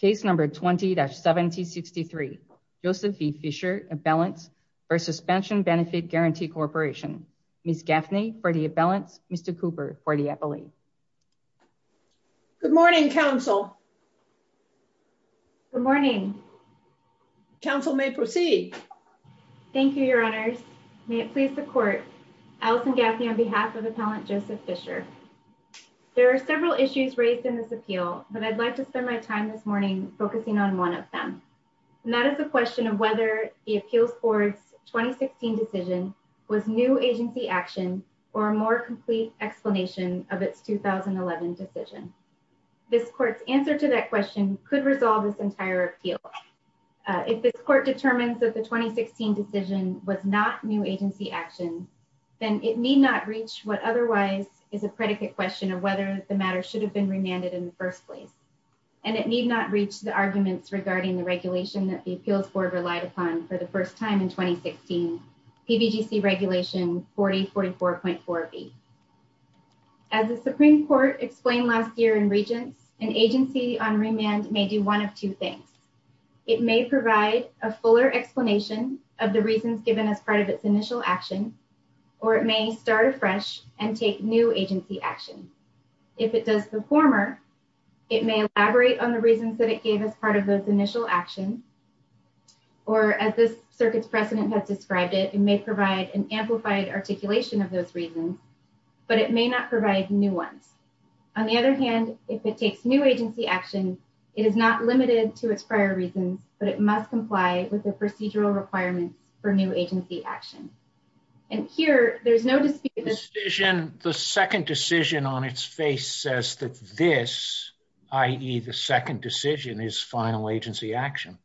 Case number 20-1763. Joseph V. Fisher, Abellants, or Suspension Benefit Guarantee Corporation. Ms. Gaffney for the Abellants, Mr. Cooper for the Appellee. Good morning, Council. Good morning. Council may proceed. Thank you, Your Honors. May it please the Court. Allison Gaffney on behalf of Appellant Joseph Fisher. There are several issues raised in this appeal, but I'd like to spend my time this morning focusing on one of them. And that is the question of whether the appeals court's 2016 decision was new agency action or a more complete explanation of its 2011 decision. This court's answer to that question could resolve this entire appeal. If this court determines that the 2016 decision was not new agency action, then it need not reach what otherwise is a predicate question of whether the matter should have been remanded in the first place. And it need not reach the arguments regarding the regulation that the appeals board relied upon for the first time in 2016, PBGC Regulation 4044.4b. As the Supreme Court explained last year in Regents, an agency on remand may do one of two things. It may provide a fuller explanation of the reasons given as part of its initial action, or it may start afresh and take new agency action. If it does the former, it may elaborate on the reasons that it gave as part of those initial actions, or as this circuit's precedent has described it, it may provide an amplified articulation of those reasons, but it may not provide new ones. On the other hand, if it takes new agency action, it is not limited to its prior reasons, but it must comply with the procedural requirements for new agency action. And here, there's no dispute... The second decision on its face says that this, i.e. the second decision is final agency action.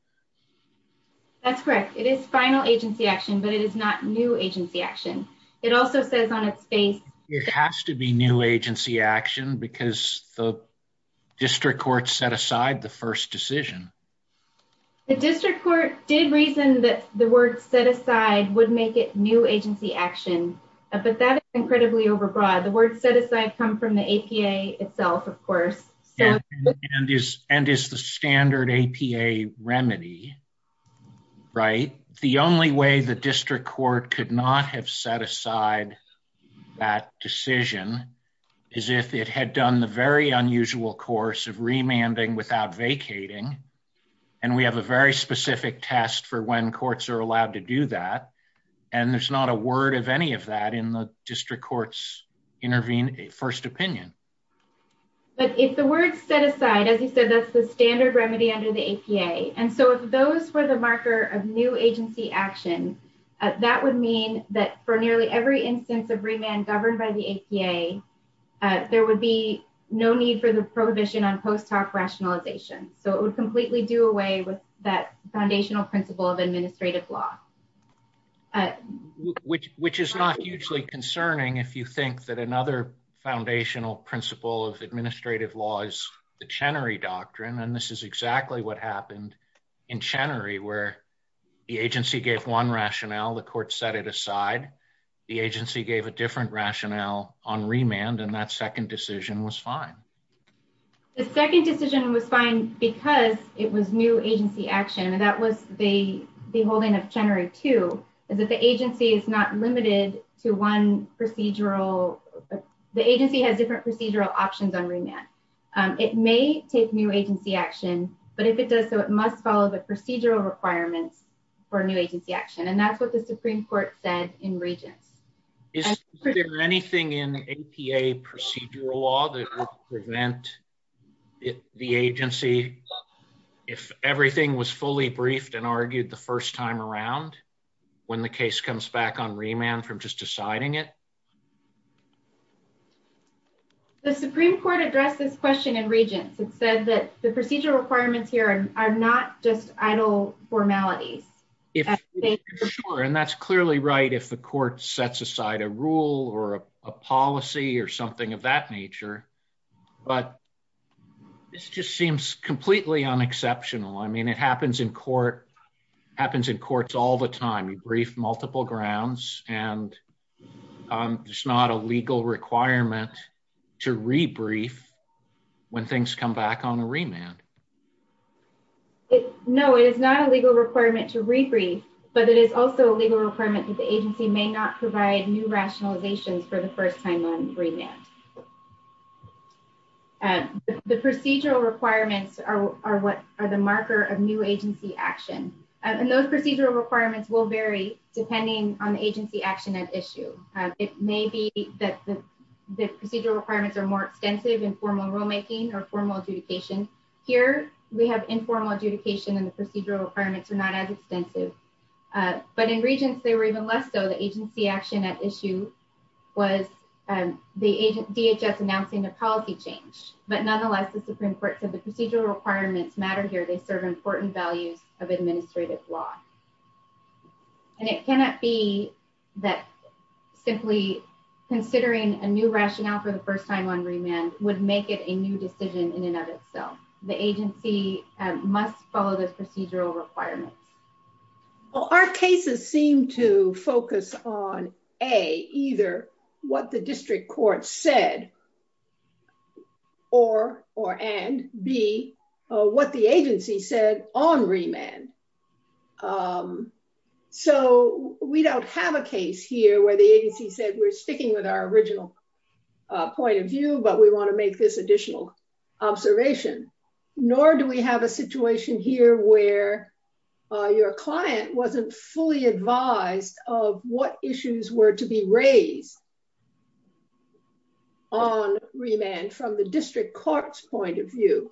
That's correct. It is final agency action, but it is not new agency action. It also says on its face... It has to be new agency action because the district court set aside the first decision. The district court did reason that the word set aside would make it new agency action, but that is incredibly overbroad. The word set aside come from the APA itself, of course. And is the standard APA remedy, right? The only way the district court could not have set aside that decision is if it had done the very unusual course of remanding without vacating, and we have a very specific test for when courts are allowed to do that. And there's not a word of any of that in the district court's first opinion. But if the word set aside, as you said, that's the standard remedy under the APA. And so if those were the marker of new agency action, that would mean that for nearly every instance of remand governed by the APA, there would be no need for the prohibition on post hoc rationalization. So it would completely do away with that foundational principle of administrative law. Which is not hugely concerning if you think that another foundational principle of administrative law is the Chenery Doctrine, and this is exactly what happened in Chenery where the agency gave one rationale, the court set it aside, the agency gave a different rationale on remand, and that second decision was fine. The second decision was fine because it was new agency action, and that was the holding of Chenery 2, is that the agency is not limited to one procedural, the agency has different procedural options on remand. It may take new agency action, but if it does, so it must follow the procedural requirements for new agency action. And that's what the Supreme Court said in Regents. Is there anything in APA procedural law that would prevent the agency if everything was fully briefed and argued the first time around when the case comes back on remand from just deciding it? The Supreme Court addressed this question in Regents. It said that the procedural requirements here are not just idle formalities. If, sure, and that's clearly right if the court sets aside a rule or a policy or something of that nature, but this just seems completely unexceptional. I mean, it happens in court, happens in courts all the time. You brief multiple grounds and it's not a legal requirement to rebrief when things come back on a remand. It, no, it is not a legal requirement to rebrief, but it is also a legal requirement that the agency may not provide new rationalizations for the first time on remand. The procedural requirements are what are the marker of new agency action. And those procedural requirements will vary depending on the agency action at issue. It may be that the procedural requirements are more extensive in formal rulemaking or we have informal adjudication and the procedural requirements are not as extensive, but in Regents they were even less so. The agency action at issue was the DHS announcing a policy change, but nonetheless, the Supreme Court said the procedural requirements matter here. They serve important values of administrative law. And it cannot be that simply considering a new rationale for the first time on remand would make it a new decision in itself. The agency must follow the procedural requirements. Well, our cases seem to focus on A, either what the district court said or, or, and B, what the agency said on remand. So we don't have a case here where the agency said we're sticking with our original point of view, but we want to make this additional observation. Nor do we have a situation here where your client wasn't fully advised of what issues were to be raised on remand from the district court's point of view.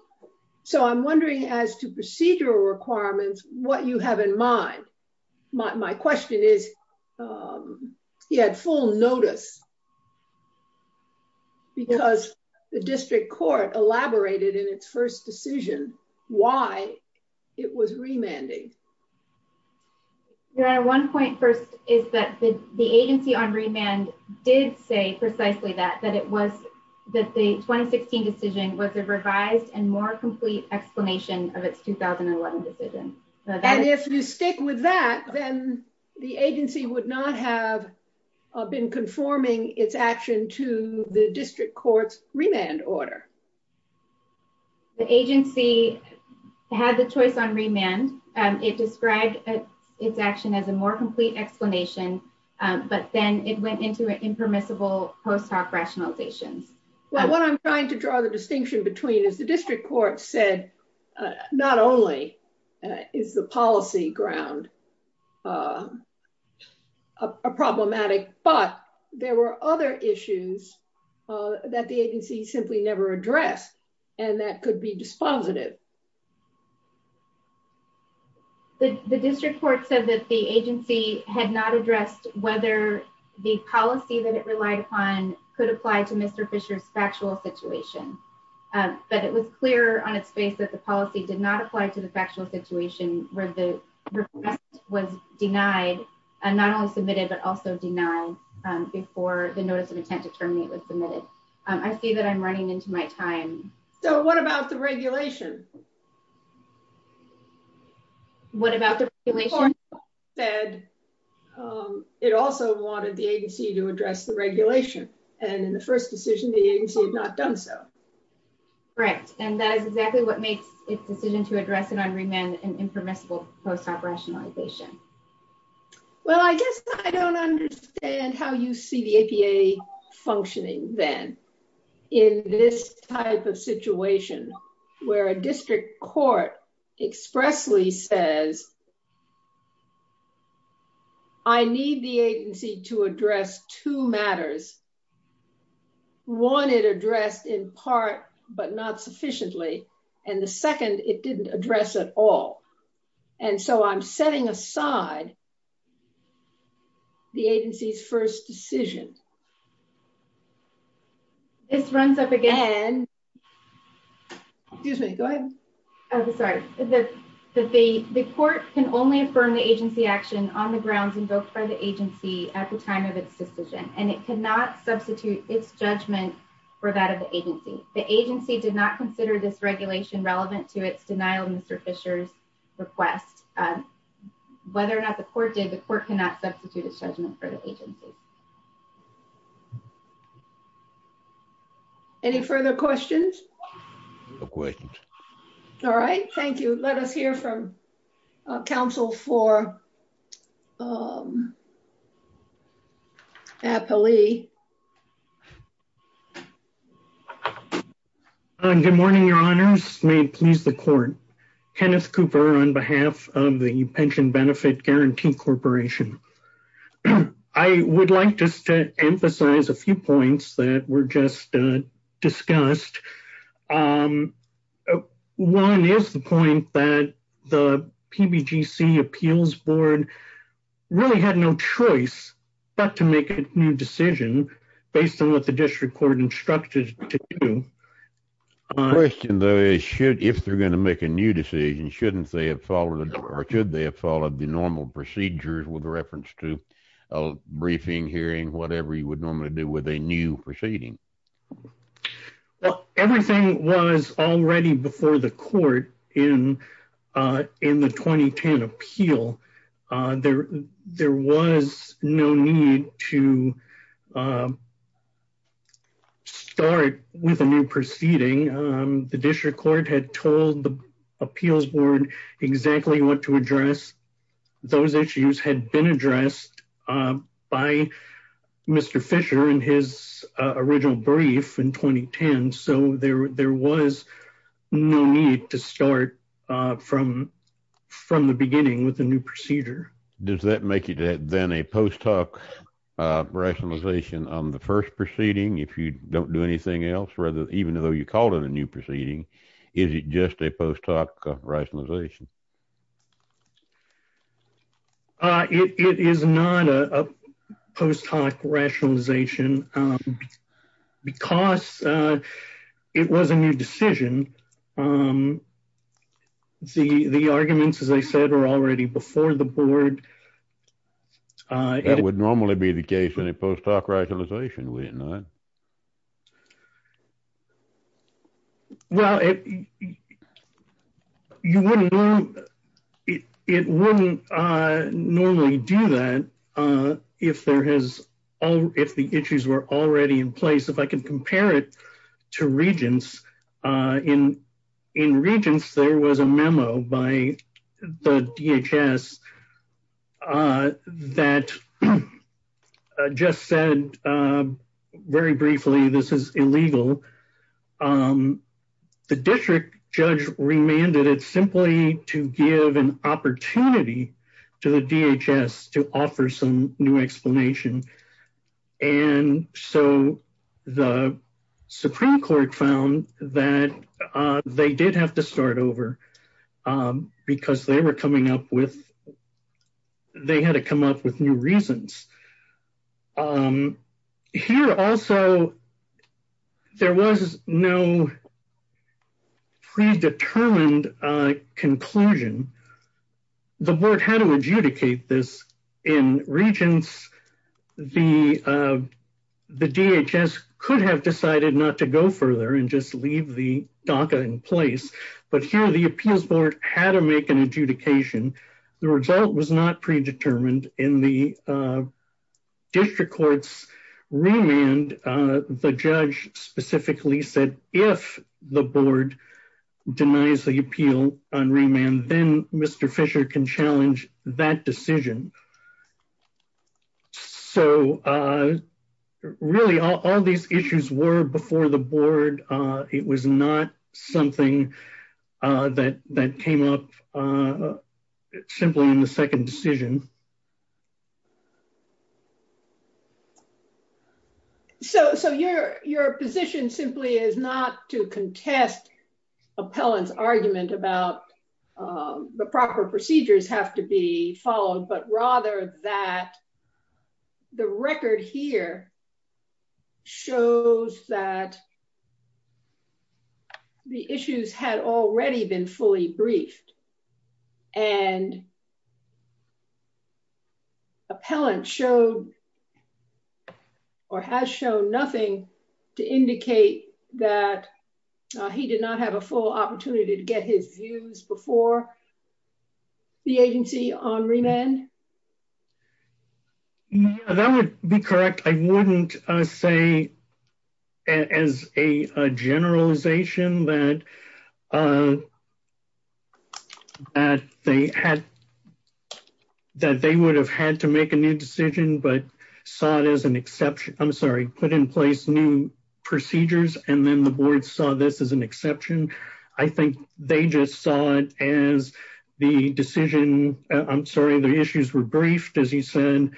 So I'm wondering as to procedural requirements, what you have in mind. My question is, he had full notice because the district court elaborated in its first decision why it was remanding. Your Honor, one point first is that the agency on remand did say precisely that, that it was, that the 2016 decision was a revised and more complete explanation of its 2011 decision. And if you stick with that, then the agency would not have been conforming its action to the district court's remand order. The agency had the choice on remand. It described its action as a more complete explanation, but then it went into an impermissible post hoc rationalizations. Well, what I'm trying to draw the distinction between is the district court said, not only is the policy ground a problematic, but there were other issues that the agency simply never addressed. And that could be dispositive. The district court said that the agency had not addressed whether the policy that it relied upon could apply to Mr. Fisher's factual situation. But it was clear on its face that the policy did not apply to the factual situation where the request was denied and not only submitted, but also denied before the notice of intent to terminate was submitted. I see that I'm running into my time. So what about the regulation? It also wanted the agency to address the regulation. And in the first decision, the agency had not done so. Correct. And that is exactly what makes its decision to address it on remand an impermissible post hoc rationalization. Well, I guess I don't understand how you see the APA functioning then in this type of situation where a district court expressly says, I need the agency to address two matters. One it addressed in part, but not sufficiently. And the second it didn't address at all. And so I'm setting aside the agency's first decision. This runs up again. Excuse me, go ahead. I'm sorry. The court can only affirm the agency action on the grounds invoked by the agency at the time of its decision, and it cannot substitute its judgment for that of the agency. The agency did not consider this regulation relevant to its denial of Mr. Fisher's request. Whether or not the court did, the court cannot substitute its judgment for the agency. Thank you. Any further questions? No questions. All right. Thank you. Let us hear from counsel for Appley. Good morning, your honors. May it please the court. Kenneth Cooper on behalf of the Pension Benefit Guarantee Corporation. I would like just to emphasize a few points that were just discussed. One is the point that the PBGC appeals board really had no choice but to make a new decision based on what the district court instructed to do. My question, though, is if they're going to make a new decision, shouldn't they have followed or should they have followed the normal procedures with reference to a briefing, hearing, whatever you would normally do with a new proceeding? Well, everything was already before the court in the 2010 appeal. There was no need to to start with a new proceeding. The district court had told the appeals board exactly what to address. Those issues had been addressed by Mr. Fisher in his original brief in 2010. So there was no need to start from the beginning with a new procedure. Does that make it then a post hoc rationalization on the first proceeding if you don't do anything else, even though you called it a new proceeding? Is it just a post hoc rationalization? It is not a post hoc rationalization because it was a new decision. The arguments, as I said, were already before the board. That would normally be the case in a post hoc rationalization, would it not? Well, it wouldn't normally do that if the issues were already in place. I can compare it to Regents. In Regents, there was a memo by the DHS that just said very briefly, this is illegal. The district judge remanded it simply to give an explanation. So the Supreme Court found that they did have to start over because they had to come up with new reasons. Here also, there was no predetermined conclusion. The board had to adjudicate this. In Regents, the DHS could have decided not to go further and just leave the DACA in place. But here, the appeals board had to make an adjudication. The result was not predetermined in the district court's remand. The judge specifically said if the board denies the appeal on remand, then Mr. Fisher can challenge that decision. So really, all these issues were before the board. It was not something that came up simply in the second decision. So your position simply is not to contest Appellant's argument about the proper procedures have to be followed, but rather that the record here shows that the issues had already been fully briefed and Appellant showed or has shown nothing to indicate that he did not have a full opportunity to get his views before the agency on remand? Yes, that would be correct. I would not say as a generalization that they would have had to make a new decision, but put in place new procedures and then the board saw this as an exception. I think they just saw it as the decision, I'm sorry, the issues were briefed, as you said.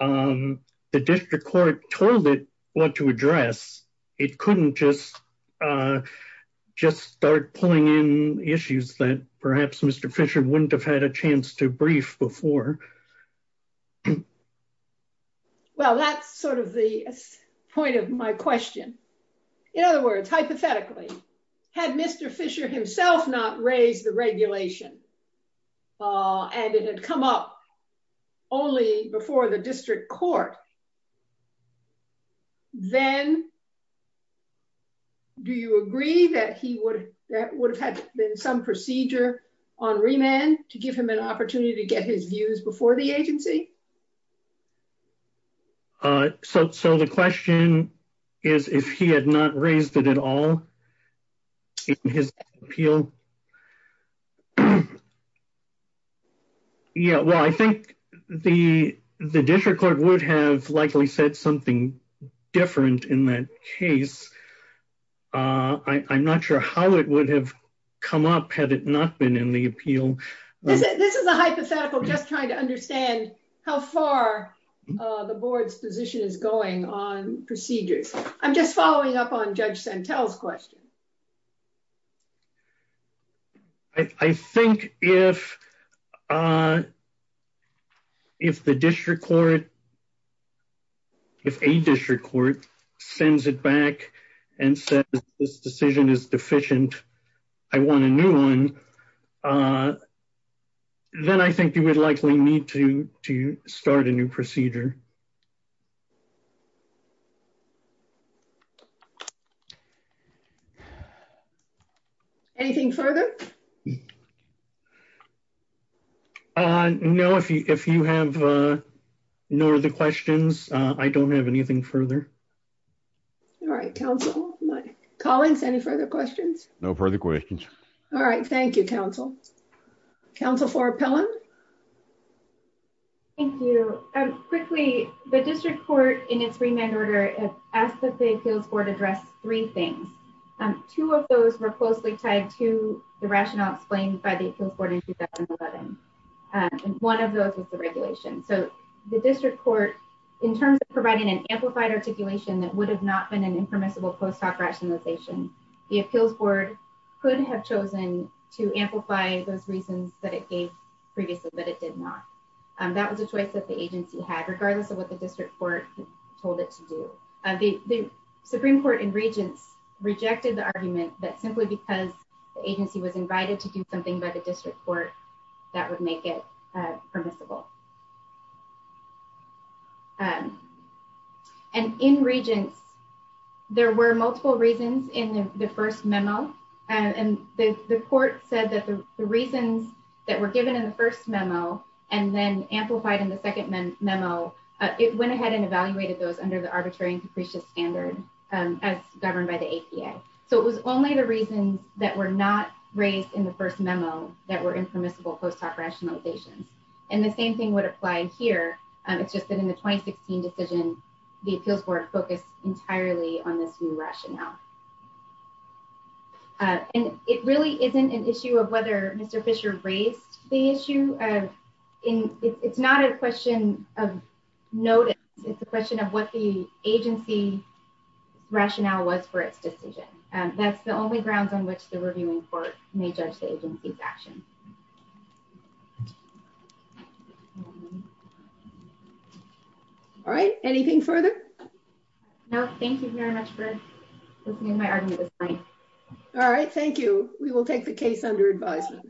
The district court told it what to address. It couldn't just start pulling in issues that perhaps Mr. Fisher wouldn't have had a chance to brief before. Well, that's sort of the point of my question. In other words, hypothetically, had Mr. Fisher himself not raised the regulation and it had come up only before the district court, then do you agree that he would have had been some procedure on remand to give him an opportunity to get his views before the agency? So the question is if he had not raised it at all in his appeal? Yeah, well, I think the district court would have likely said something different in that case. I'm not sure how it would have come up had it not been in the appeal. This is a hypothetical, just trying to understand how far the board's position is going on procedures. I'm just following up on Judge Santel's question. I think if a district court sends it back and says this decision is deficient, I want a new one, then I think you would likely need to start a new procedure. Anything further? No, if you have no other questions, I don't have anything further. All right, counsel. Collins, any further questions? No further questions. All right, thank you, counsel. Counsel for Appellant? Thank you. Quickly, the district court in its remand order has asked that the appeals board address three things. Two of those were closely tied to the rationale explained by the appeals board in 2011, and one of those was the regulation. So the district court, in terms of providing an amplified articulation that would have not been an impermissible post hoc rationalization, the appeals board could have chosen to amplify those reasons that it gave previously, but it did not. That was a choice that the agency had, regardless of what the district court told it to do. The Supreme Court in Regents rejected the argument that simply because the agency was invited to do something by the district court, that would make it permissible. And in Regents, there were multiple reasons in the first memo, and the court said that the reasons that were given in the first memo and then amplified in the second memo, it went ahead and evaluated those under the arbitrary and capricious standard as governed by the APA. So it was only the reasons that were not raised in the first memo that were impermissible post hoc rationalizations. And the same thing would apply here. It's just that in the 2016 decision, the appeals board focused entirely on this new rationale. And it really isn't an issue of whether Mr. Fisher raised the issue. It's not a question of notice. It's a question of what the agency rationale was for its decision. That's the only grounds on which the reviewing court may judge the agency's action. All right. Anything further? No. Thank you very much for listening to my argument this morning. All right. Thank you. We will take the case under advisement.